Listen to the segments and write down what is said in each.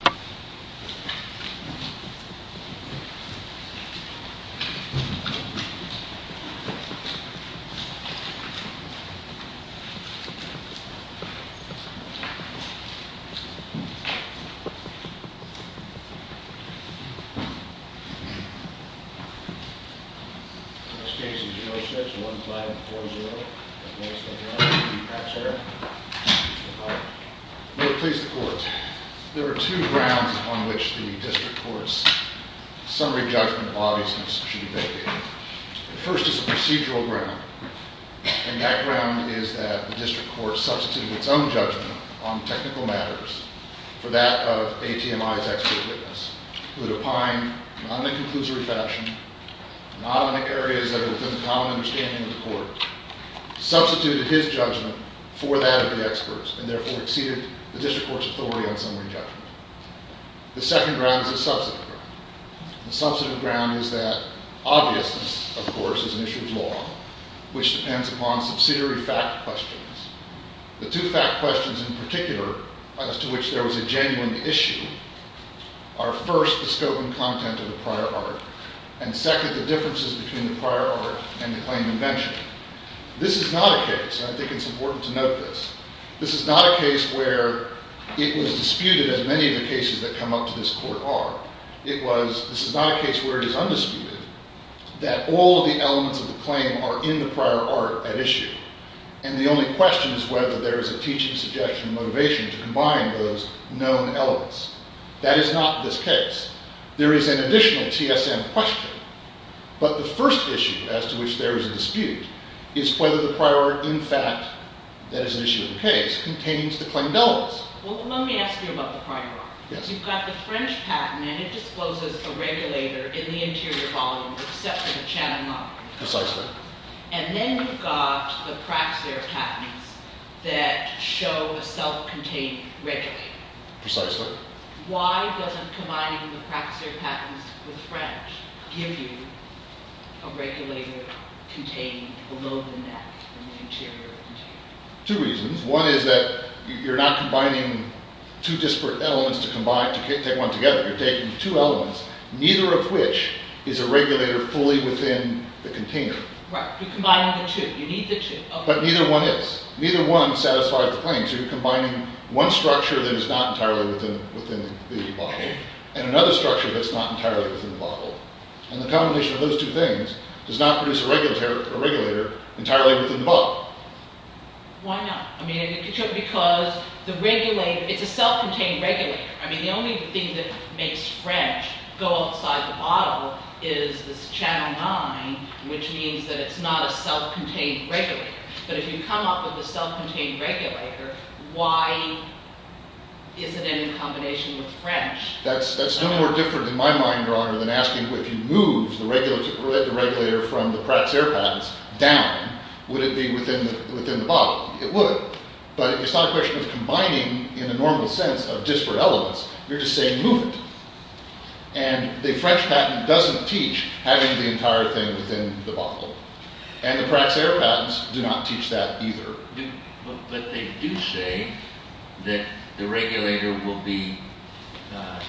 This case is E06-1540, the plaintiff's name is Mr. Brown v. Praxair. Mr. Brown. May it please the court, there are two grounds on which the district court's summary judgment of obviousness should be validated. The first is a procedural ground, and that ground is that the district court substituted its own judgment on technical matters for that of ATMI's expert witness, who had opined not in a conclusory fashion, not in areas that are within the common understanding of the court, substituted his judgment for that of the expert's, and therefore exceeded the district court's authority on summary judgment. The second ground is a substantive ground. The substantive ground is that obviousness, of course, is an issue of law, which depends upon subsidiary fact questions. The two fact questions in particular as to which there was a genuine issue are, first, the scope and content of the prior art, and second, the differences between the prior art and the claim of invention. This is not a case, and I think it's important to note this, this is not a case where it was disputed, as many of the cases that come up to this court are. It was, this is not a case where it is undisputed, that all of the elements of the claim are in the prior art at issue. And the only question is whether there is a teaching suggestion or motivation to combine those known elements. That is not this case. There is an additional TSM question. But the first issue as to which there is a dispute is whether the prior art, in fact, that is an issue of the case, contains the claimed elements. Well, let me ask you about the prior art. Yes. You've got the French patent, and it discloses a regulator in the interior volume, except for the channel model. Precisely. And then you've got the Praxair patents that show a self-contained regulator. Precisely. Why doesn't combining the Praxair patents with French give you a regulator contained below than that, in the interior of the container? Two reasons. One is that you're not combining two disparate elements to take one together. You're taking two elements, neither of which is a regulator fully within the container. Right. You're combining the two. You need the two. But neither one is. Neither one satisfies the claim. So you're combining one structure that is not entirely within the bottle, and another structure that's not entirely within the bottle. And the combination of those two things does not produce a regulator entirely within the bottle. Why not? I mean, because the regulator, it's a self-contained regulator. I mean, the only thing that makes French go outside the bottle is this channel 9, which means that it's not a self-contained regulator. But if you come up with a self-contained regulator, why isn't it in combination with French? That's no more different in my mind, Your Honor, than asking if you move the regulator from the Praxair patents down, would it be within the bottle? It would, but it's not a question of combining in a normal sense of disparate elements. You're just saying move it. And the French patent doesn't teach having the entire thing within the bottle. And the Praxair patents do not teach that either. But they do say that the regulator will be the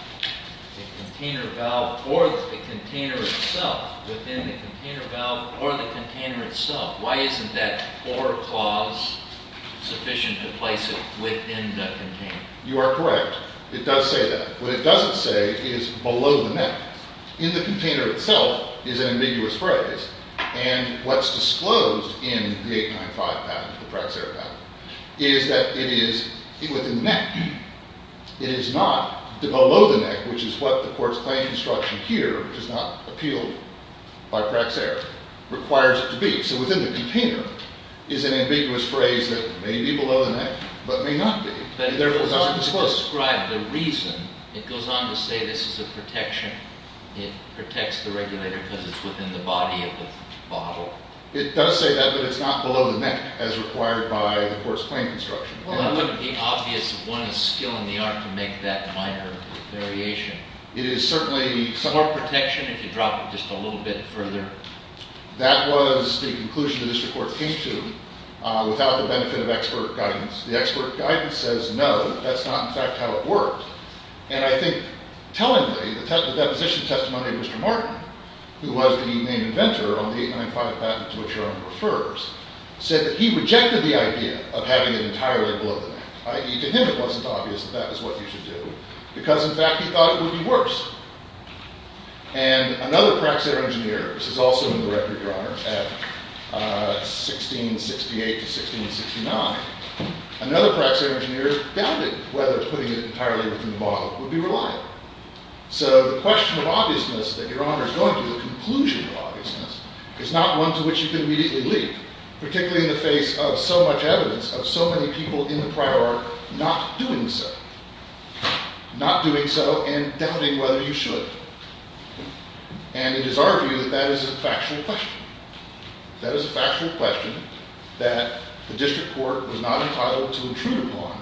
container valve or the container itself, within the container valve or the container itself. Why isn't that or clause sufficient to place it within the container? You are correct. It does say that. What it doesn't say is below the neck. In the container itself is an ambiguous phrase. And what's disclosed in the 895 patent, the Praxair patent, is that it is within the neck. It is not below the neck, which is what the court's claim instruction here, which is not appealed by Praxair, requires it to be. So within the container is an ambiguous phrase that may be below the neck, but may not be. But it goes on to describe the reason. It goes on to say this is a protection. It protects the regulator because it's within the body of the bottle. It does say that, but it's not below the neck as required by the court's claim instruction. It wouldn't be obvious if one is skilling the art to make that minor variation. It is certainly… More protection if you drop it just a little bit further. That was the conclusion that this report came to without the benefit of expert guidance. The expert guidance says no, that's not in fact how it worked. And I think tellingly, the deposition testimony of Mr. Martin, who was the main inventor on the 895 patent to which Jerome refers, said that he rejected the idea of having it entirely below the neck. To him it wasn't obvious that that is what you should do because, in fact, he thought it would be worse. And another praxair engineer, this is also in the record, Your Honor, at 1668 to 1669, another praxair engineer doubted whether putting it entirely within the bottle would be reliable. So the question of obviousness that Your Honor is going to, the conclusion of obviousness, is not one to which you can immediately leave, particularly in the face of so much evidence of so many people in the prior order not doing so. Not doing so and doubting whether you should. And it is our view that that is a factual question. That is a factual question that the district court was not entitled to intrude upon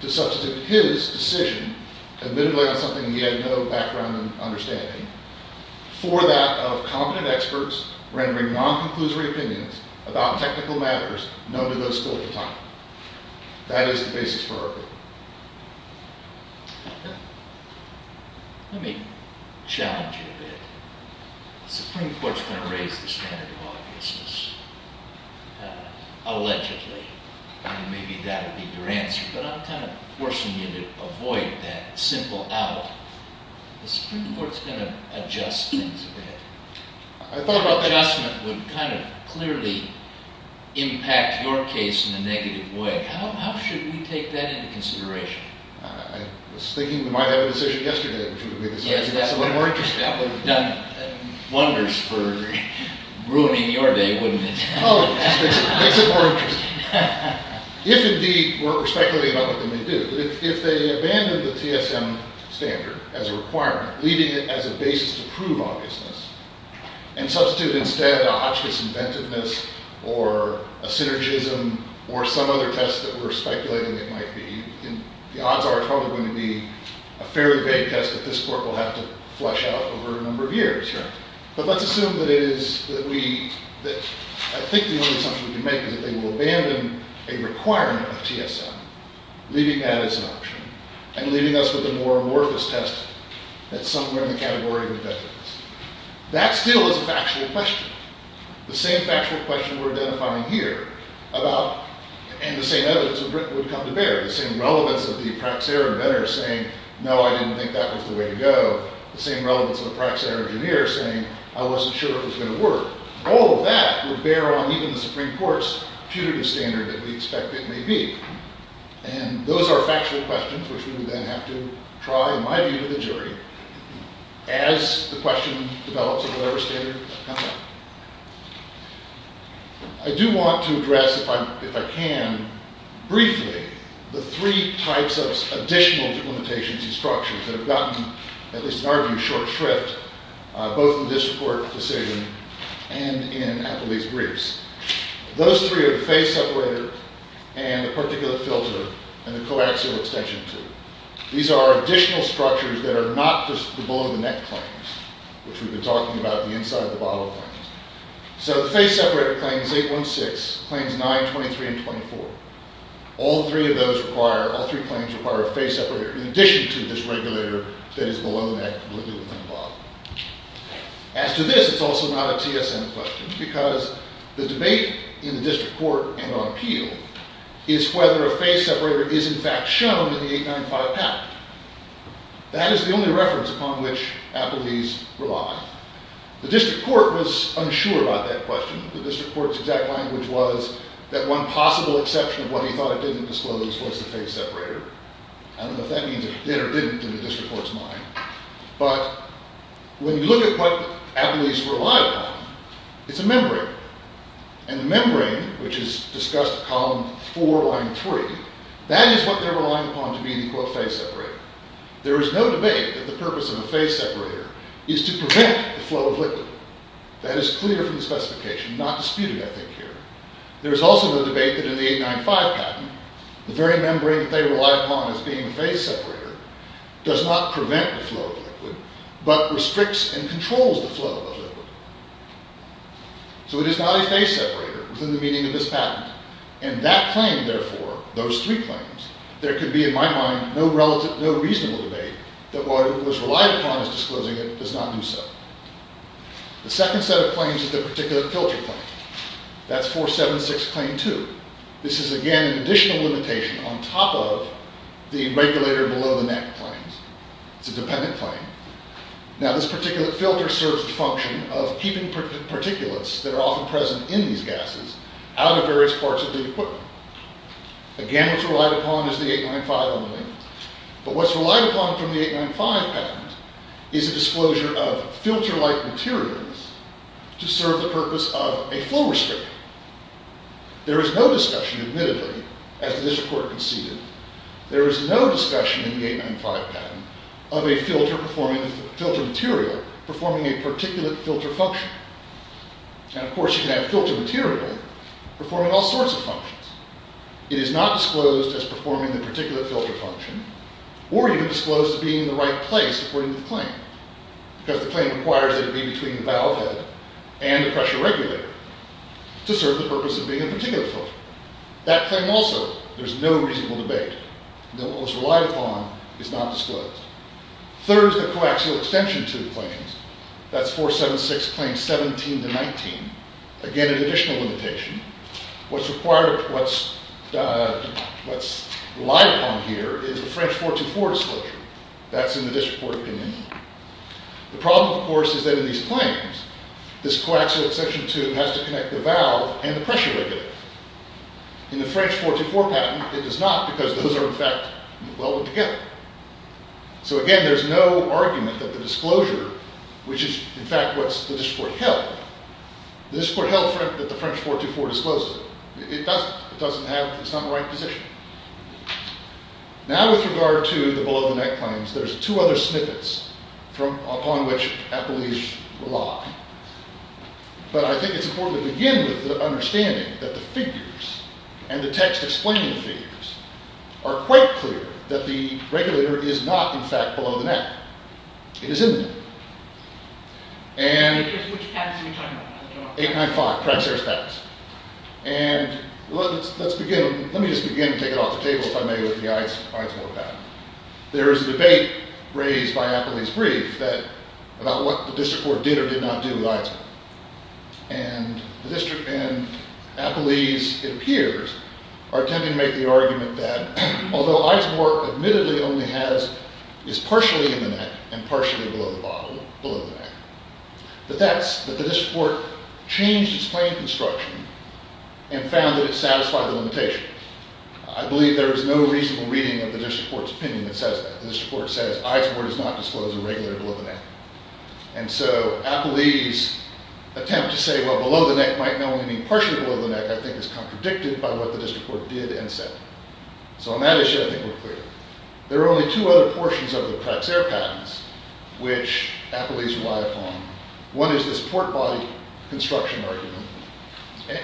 to substitute his decision, admittedly on something he had no background in understanding, for that of competent experts rendering non-conclusory opinions about technical matters known to those schools of thought. That is the basis for our view. Let me challenge you a bit. The Supreme Court is going to raise the standard of obviousness, allegedly, and maybe that will be your answer, but I'm kind of forcing you to avoid that simple out. The Supreme Court is going to adjust things a bit. Your adjustment would kind of clearly impact your case in a negative way. How should we take that into consideration? I was thinking we might have a decision yesterday. Yes, that would have done wonders for ruining your day, wouldn't it? Oh, it makes it more interesting. If indeed we're speculating about what they may do, if they abandon the TSM standard as a requirement, leaving it as a basis to prove obviousness, and substitute instead a Hotchkiss inventiveness or a synergism or some other test that we're speculating it might be, the odds are it's probably going to be a fairly vague test that this court will have to flesh out over a number of years. But let's assume that it is, that we, that I think the only assumption we can make is that they will abandon a requirement of TSM, leaving that as an option, and leaving us with a more amorphous test that's somewhere in the category of inventiveness. That still is a factual question. The same factual question we're identifying here about, and the same evidence would come to bear, the same relevance of the Praxair inventor saying, no, I didn't think that was the way to go, the same relevance of a Praxair engineer saying, I wasn't sure it was going to work. All of that would bear on even the Supreme Court's putative standard that we expect it may be. And those are factual questions, which we would then have to try, in my view, with a jury, as the question develops a lower standard of conduct. I do want to address, if I can, briefly, the three types of additional limitations and structures that have gotten, at least in our view, short shrift, both in this court decision and in Appleby's briefs. Those three are the phase separator, and the particulate filter, and the coaxial extension tube. These are additional structures that are not just the below-the-neck claims, which we've been talking about, the inside-the-bottle claims. So the phase separator claims 816, claims 923 and 24. All three of those require, all three claims require a phase separator, in addition to this regulator that is below-the-neck, below-the-bottom. As to this, it's also not a TSN question, because the debate in the district court and on appeal is whether a phase separator is, in fact, shown in the 895 patent. That is the only reference upon which Appleby's rely. The district court was unsure about that question. The district court's exact language was that one possible exception of what he thought it didn't disclose was the phase separator. I don't know if that means it did or didn't in the district court's mind. But when you look at what Appleby's relied on, it's a membrane. And the membrane, which is discussed in column 4, line 3, that is what they're relying upon to be the, quote, phase separator. There is no debate that the purpose of a phase separator is to prevent the flow of liquid. That is clear from the specification, not disputed, I think, here. There is also the debate that in the 895 patent, the very membrane that they relied upon as being a phase separator does not prevent the flow of liquid, but restricts and controls the flow of liquid. So it is not a phase separator within the meaning of this patent. And that claim, therefore, those three claims, there can be, in my mind, no relative, no reasonable debate that what was relied upon as disclosing it does not do so. The second set of claims is the particulate filter claim. That's 476 claim 2. This is, again, an additional limitation on top of the regulator below the net claims. It's a dependent claim. Now, this particulate filter serves the function of keeping particulates that are often present in these gases out of various parts of the equipment. Again, what's relied upon is the 895 only. But what's relied upon from the 895 patent is a disclosure of filter-like materials to serve the purpose of a flow restrictor. There is no discussion, admittedly, as the district court conceded, there is no discussion in the 895 patent of a filter material performing a particulate filter function. And, of course, you can have a filter material performing all sorts of functions. It is not disclosed as performing the particulate filter function or even disclosed as being in the right place according to the claim because the claim requires that it be between the valve head and the pressure regulator to serve the purpose of being a particulate filter. That claim also, there's no reasonable debate that what was relied upon is not disclosed. Third is the coaxial extension to the claims. That's 476 claim 17 to 19. Again, an additional limitation. What's relied upon here is the French 424 disclosure. That's in the district court opinion. The problem, of course, is that in these claims, this coaxial extension has to connect the valve and the pressure regulator. In the French 424 patent, it does not because those are, in fact, welded together. So, again, there's no argument that the disclosure, which is, in fact, what the district court held. The district court held that the French 424 disclosed it. It doesn't have, it's not in the right position. Now, with regard to the below-the-net claims, there's two other snippets upon which Appelish rely. But I think it's important to begin with the understanding that the figures and the text explaining the figures are quite clear that the regulator is not, in fact, below the net. It is in the net. And... Which patents are you talking about? 895, Pratt & Sharpe's patents. And let's begin, let me just begin, take it off the table, if I may, with the Eidsvoort patent. There is a debate raised by Appelish brief about what the district court did or did not do with Eidsvoort. And the district and Appelish, it appears, are attempting to make the argument that, although Eidsvoort admittedly only has, is partially in the net and partially below the net, that the district court changed its claim construction and found that it satisfied the limitation. I believe there is no reasonable reading of the district court's opinion that says that. The district court says Eidsvoort does not disclose a regulator below the net. And so Appelish's attempt to say, well, below the net might not only mean partially below the net, I think is contradicted by what the district court did and said. So on that issue, I think we're clear. There are only two other portions of the Krexer patents which Appelish relied upon. One is this port body construction argument. And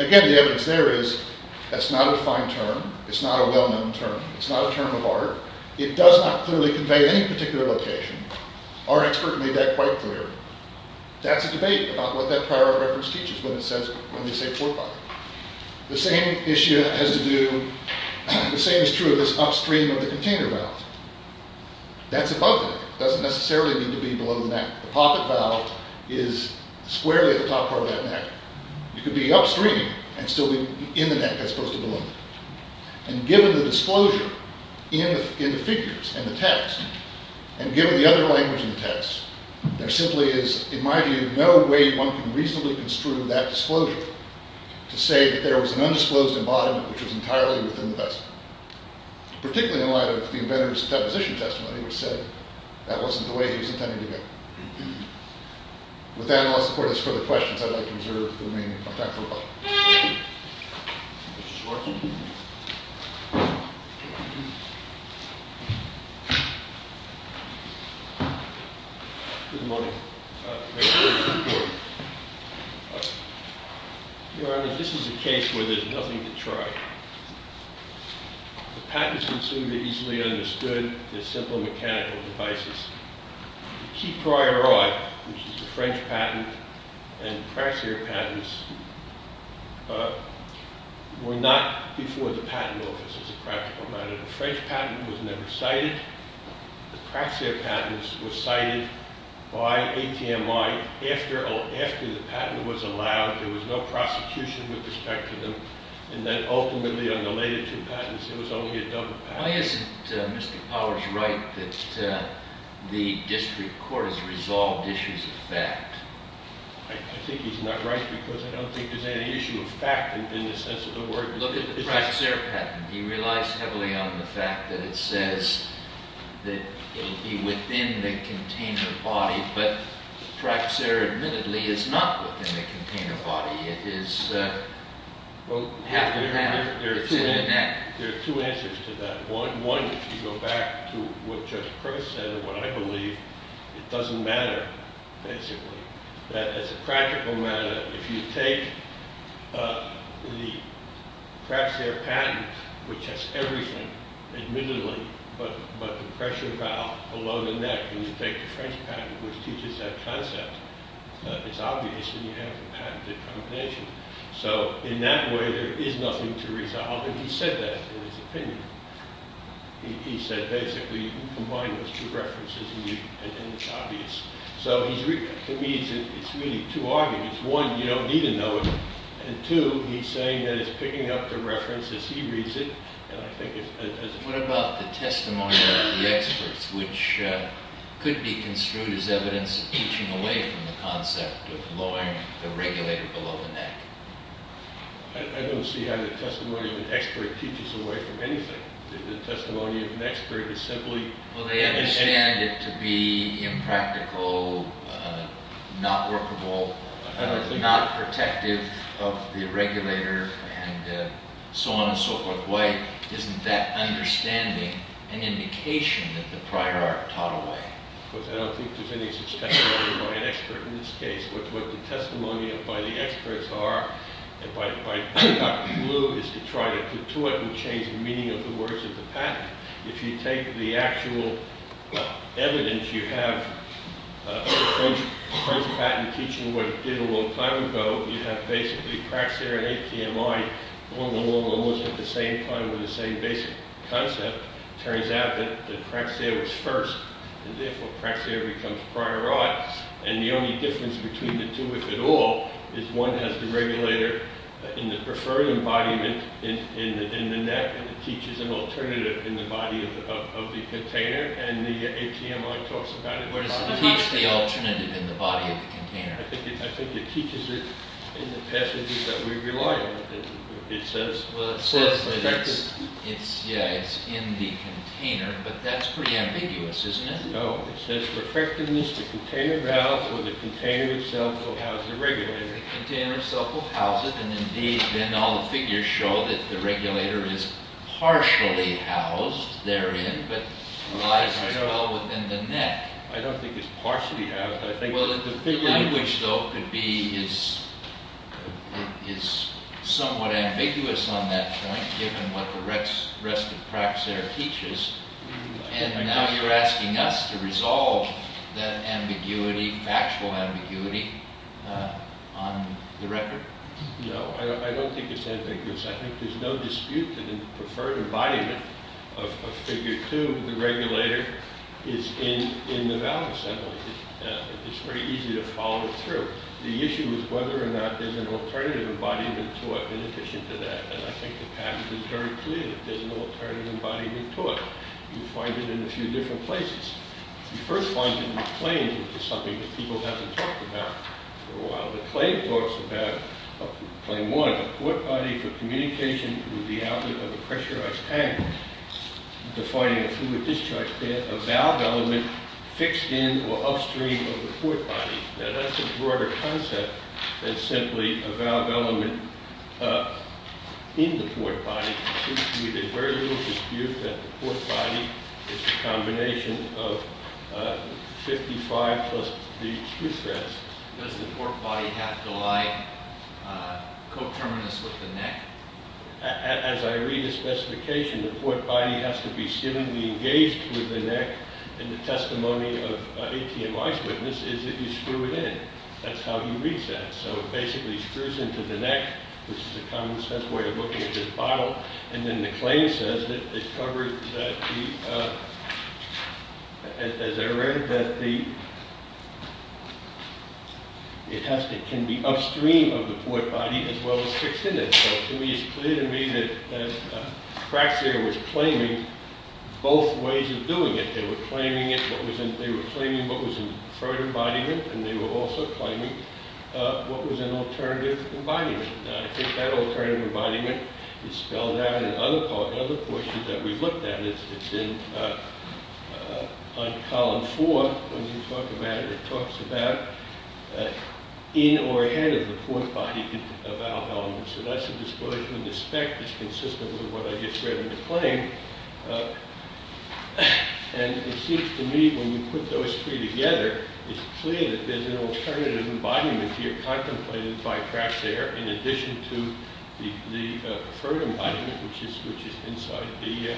again, the evidence there is that's not a fine term. It's not a well-known term. It's not a term of art. It does not clearly convey any particular location. Our expert made that quite clear. That's a debate about what that prior art reference teaches when they say port body. The same issue has to do, the same is true of this upstream of the container valve. That's above the net. It doesn't necessarily need to be below the net. The pocket valve is squarely at the top part of that net. It could be upstream and still be in the net. That's supposed to belong there. And given the disclosure in the figures and the text, and given the other language in the text, there simply is, in my view, no way one can reasonably construe that disclosure to say that there was an undisclosed embodiment which was entirely within the vessel, particularly in light of the inventor's deposition testimony, which said that wasn't the way he was intending to go. With that, unless the court has further questions, I'd like to reserve the remaining time for rebuttal. Mr. Schwarzen? Good morning. Thank you. Your Honor, this is a case where there's nothing to try. The patents consumed are easily understood. They're simple mechanical devices. The key priori, which is the French patent, and the craxia patents, were not before the patent office, as a practical matter. The French patent was never cited. The craxia patents were cited by ATMI after the patent was allowed. There was no prosecution with respect to them. And then ultimately, on the later two patents, there was only a double patent. Why isn't Mr. Powers right that the district court has resolved issues of fact? I think he's not right because I don't think there's any issue of fact in the sense of the word. Look at the craxia patent. He relies heavily on the fact that it says that it will be within the container body. But craxia, admittedly, is not within the container body. It is half a pound. It's in a net. There are two answers to that. One, if you go back to what Judge Price said, and what I believe, it doesn't matter, basically. That as a practical matter, if you take the craxia patent, which has everything, admittedly, but the pressure valve below the neck, and you take the French patent, which teaches that concept, it's obvious that you have a patented combination. So in that way, there is nothing to resolve. And he said that in his opinion. He said, basically, you combine those two references, and it's obvious. So to me, it's really too obvious. One, you don't need to know it. And two, he's saying that it's picking up the reference as he reads it. What about the testimony of the experts, which could be construed as evidence of teaching away from the concept of lowering the regulator below the neck? I don't see how the testimony of an expert teaches away from anything. The testimony of an expert is simply Well, they understand it to be impractical, not workable, not protective of the regulator, and so on and so forth. Why isn't that understanding an indication that the prior art taught away? Because I don't think there's any such testimony by an expert in this case. What the testimony by the experts are, and by Dr. Blue, is to try to put to it and change the meaning of the words of the patent. If you take the actual evidence you have of a French patent teaching what it did a long time ago, you have basically craxair and HTMI, almost at the same time with the same basic concept. Turns out that craxair was first, and therefore craxair becomes prior art. And the only difference between the two, if at all, is one has the regulator in the preferred embodiment in the neck, and it teaches an alternative in the body of the container. And the HTMI talks about it. Where does it teach the alternative in the body of the container? I think it teaches it in the passages that we rely on. It says... Well, it says that it's, yeah, it's in the container, but that's pretty ambiguous, isn't it? No, it says for effectiveness, the container valves or the container itself will house the regulator. The container itself will house it, and indeed, Ben, all the figures show that the regulator is partially housed therein, but lies as well within the neck. I don't think it's partially housed. The language, though, is somewhat ambiguous on that point, given what the rest of craxair teaches. And now you're asking us to resolve that ambiguity, factual ambiguity, on the record? No, I don't think it's ambiguous. I think there's no dispute that in the preferred embodiment of figure two, the regulator is in the valve assembly. It's very easy to follow through. The issue is whether or not there's an alternative embodiment to it in addition to that, and I think the patent is very clear that there's no alternative embodiment to it. You find it in a few different places. You first find it in the claims, which is something that people haven't talked about for a while. The claim talks about, claim one, a port body for communication with the outlet of a pressurized tank, defining a fluid discharge pan, a valve element fixed in or upstream of the port body. Now, that's a broader concept than simply a valve element in the port body. There's very little dispute that the port body is a combination of 55 plus these two threads. Does the port body have to lie coterminous with the neck? As I read the specification, the port body has to be seemingly engaged with the neck, and the testimony of ATMI's witness is if you screw it in. That's how he reads that, so it basically screws into the neck, which is a common-sense way of looking at this bottle, and then the claim says that it covers the... As I read, that the... It has to, can be upstream of the port body as well as fixed in it, so to me, it's clear to me that Kratzer was claiming both ways of doing it. They were claiming it, they were claiming what was inferred embodiment, and they were also claiming what was an alternative embodiment. I think that alternative embodiment is spelled out in other portions that we've looked at. It's in... On column four, when you talk about it, it talks about in or ahead of the port body of our element, so that's a disclosure in the spec that's consistent with what I just read in the claim, and it seems to me when you put those three together, it's clear that there's an alternative embodiment here contemplated by Kratzer in addition to the preferred embodiment, which is inside the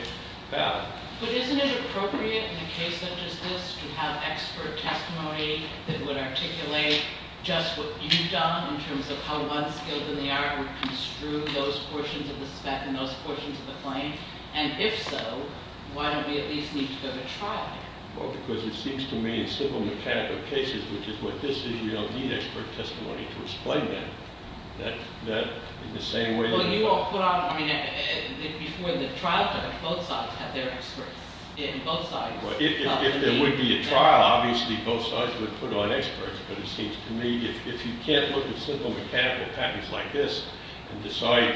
valve. But isn't it appropriate in a case such as this to have expert testimony that would articulate just what you've done in terms of how one skill in the art would construe those portions of the spec and those portions of the claim? And if so, why don't we at least need to go to trial? Well, because it seems to me in simple mechanical cases, which is what this is, you don't need expert testimony to explain that. That, in the same way... Well, you won't put on... I mean, before the trial time, both sides had their experts. In both sides... Well, if there would be a trial, obviously both sides would put on experts, but it seems to me if you can't look at simple mechanical patents like this and decide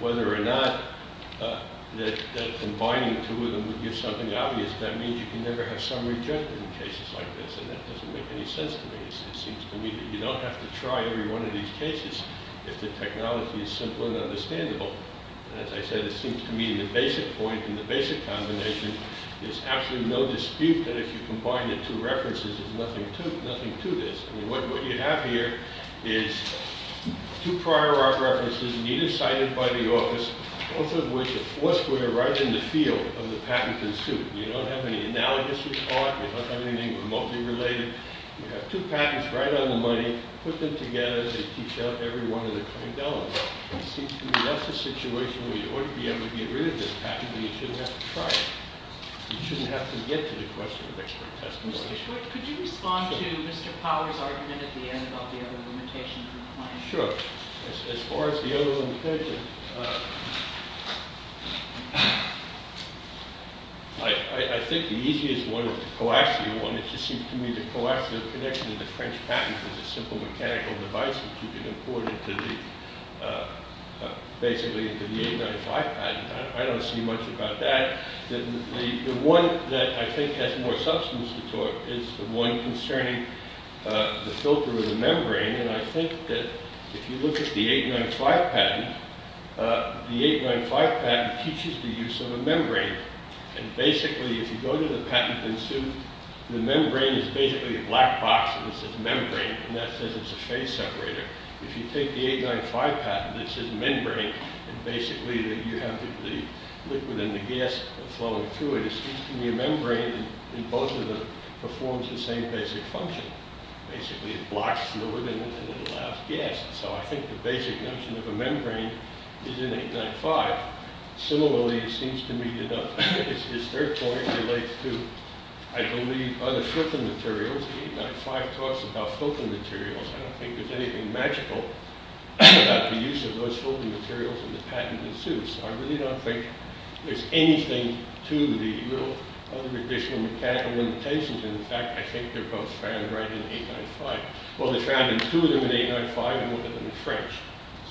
whether or not that combining the two of them would give something obvious, that means you can never have summary judgment in cases like this, and that doesn't make any sense to me. It seems to me that you don't have to try every one of these cases if the technology is simple and understandable. And as I said, it seems to me in the basic point, in the basic combination, there's absolutely no dispute that if you combine the two references, there's nothing to this. I mean, what you have here is two prior art references neither cited by the office, both of which are foursquare right in the field of the patent in suit. You don't have any analogous report. You don't have anything remotely related. You have two patents right on the money. Put them together. They teach out every one of the kind elements. It seems to me that's a situation where you ought to be able to get rid of this patent, but you shouldn't have to try it. You shouldn't have to get to the question of expert testimony. Mr. Schwartz, could you respond to Mr. Power's argument at the end about the other limitation? Sure. As far as the other limitation, I think the easiest one is the coaxial one. It just seems to me the coaxial connection to the French patent is a simple mechanical device which you can import into the basically into the 895 patent. I don't see much about that. The one that I think has more substance to it is the one concerning the filter of the membrane, and I think that if you look at the 895 patent, the 895 patent teaches the use of a membrane, and basically if you go to the patent in suit, the membrane is basically a black box that says membrane, and that says it's a phase separator. If you take the 895 patent that says membrane, and basically you have the liquid and the gas flowing through it, it seems to me a membrane in both of them performs the same basic function. Basically it blocks fluid and it allows gas. So I think the basic notion of a membrane is in 895. Similarly, it seems to me that its third point relates to, I believe, other filter materials. Whereas the 895 talks about filter materials, I don't think there's anything magical about the use of those filter materials in the patent in suit, so I really don't think there's anything to the real other additional mechanical limitations. In fact, I think they're both found right in 895. Well, they're found in two of them in 895 and one of them in French,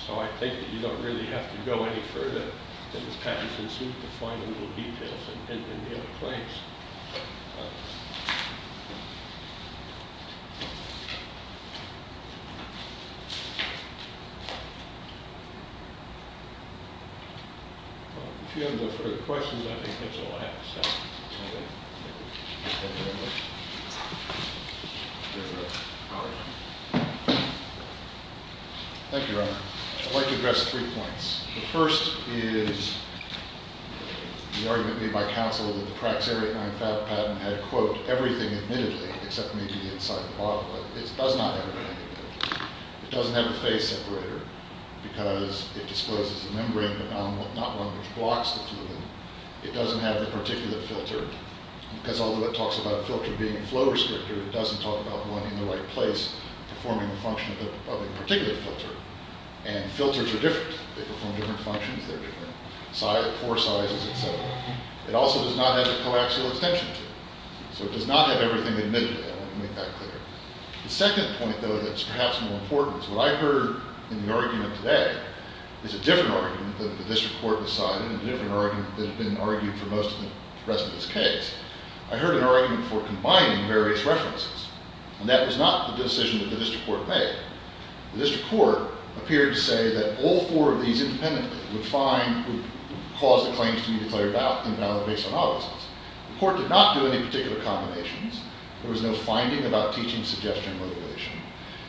so I think that you don't really have to go any further than the patents in suit to find the little details in the claims. If you have no further questions, I think that's all I have to say. Thank you very much. Thank you, Your Honor. I'd like to address three points. The first is the argument made by counsel that the Praxair 895 patent had, quote, everything admittedly except maybe the inside of the bottle, but it does not have everything admittedly. It doesn't have a phase separator because it discloses the membrane, but not one which blocks the two of them. It doesn't have the particulate filter because although it talks about a filter being a flow restrictor, it doesn't talk about one in the right place performing the function of a particulate filter, and filters are different. They perform different functions. They're different pore sizes, et cetera. It also does not have the coaxial extension tool, so it does not have everything admittedly. I want to make that clear. The second point, though, that's perhaps more important is what I heard in the argument today is a different argument that the district court decided and a different argument that had been argued for most of the rest of this case. I heard an argument for combining various references, and that was not the decision that the district court made. The district court appeared to say that all four of these independently would cause the claims to be declared invalid based on all of these things. The court did not do any particular combinations. There was no finding about teaching suggestion motivation,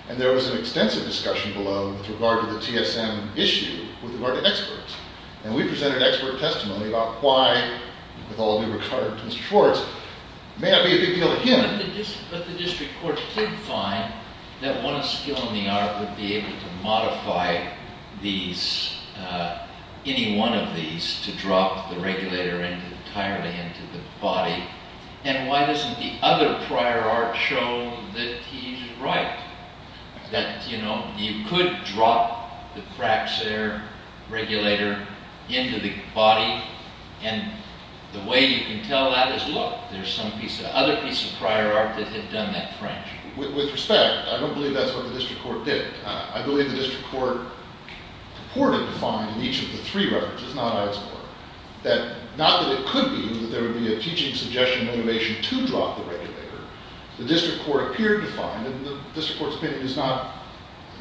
and there was an extensive discussion below with regard to the TSM issue with regard to experts, and we presented expert testimony about why, with all due regard to Mr. Schwartz, it may not be a big deal to him. But the district court did find that one of skill and the art would be able to modify these, any one of these, to drop the regulator entirely into the body. And why doesn't the other prior art show that he's right? That, you know, you could drop the Fraxair regulator into the body, and the way you can tell that is, look, there's some other piece of prior art that had done that French. With respect, I don't believe that's what the district court did. I believe the district court purported to find in each of the three references, not Ives' work, that not that it could be that there would be a teaching suggestion motivation to drop the regulator. The district court appeared to find, and the district court's opinion is not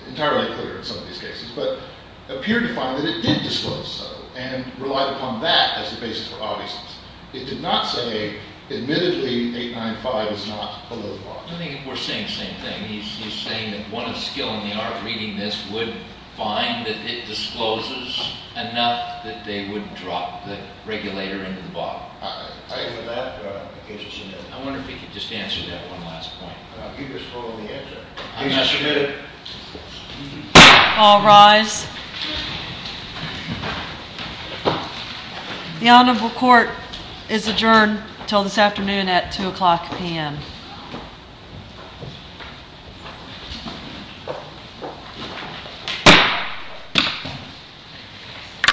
entirely clear in some of these cases, but appeared to find that it did disclose so, and relied upon that as the basis for obviousness. It did not say, admittedly, 895 is not below the law. I think we're saying the same thing. He's saying that one of skill and the art reading this would find that it discloses enough that they would drop the regulator into the body. I agree with that, in case you submit it. I wonder if we could just answer that one last point. You just hold the answer. In case you submit it. All rise. The honorable court is adjourned until this afternoon at 2 o'clock p.m. Thank you.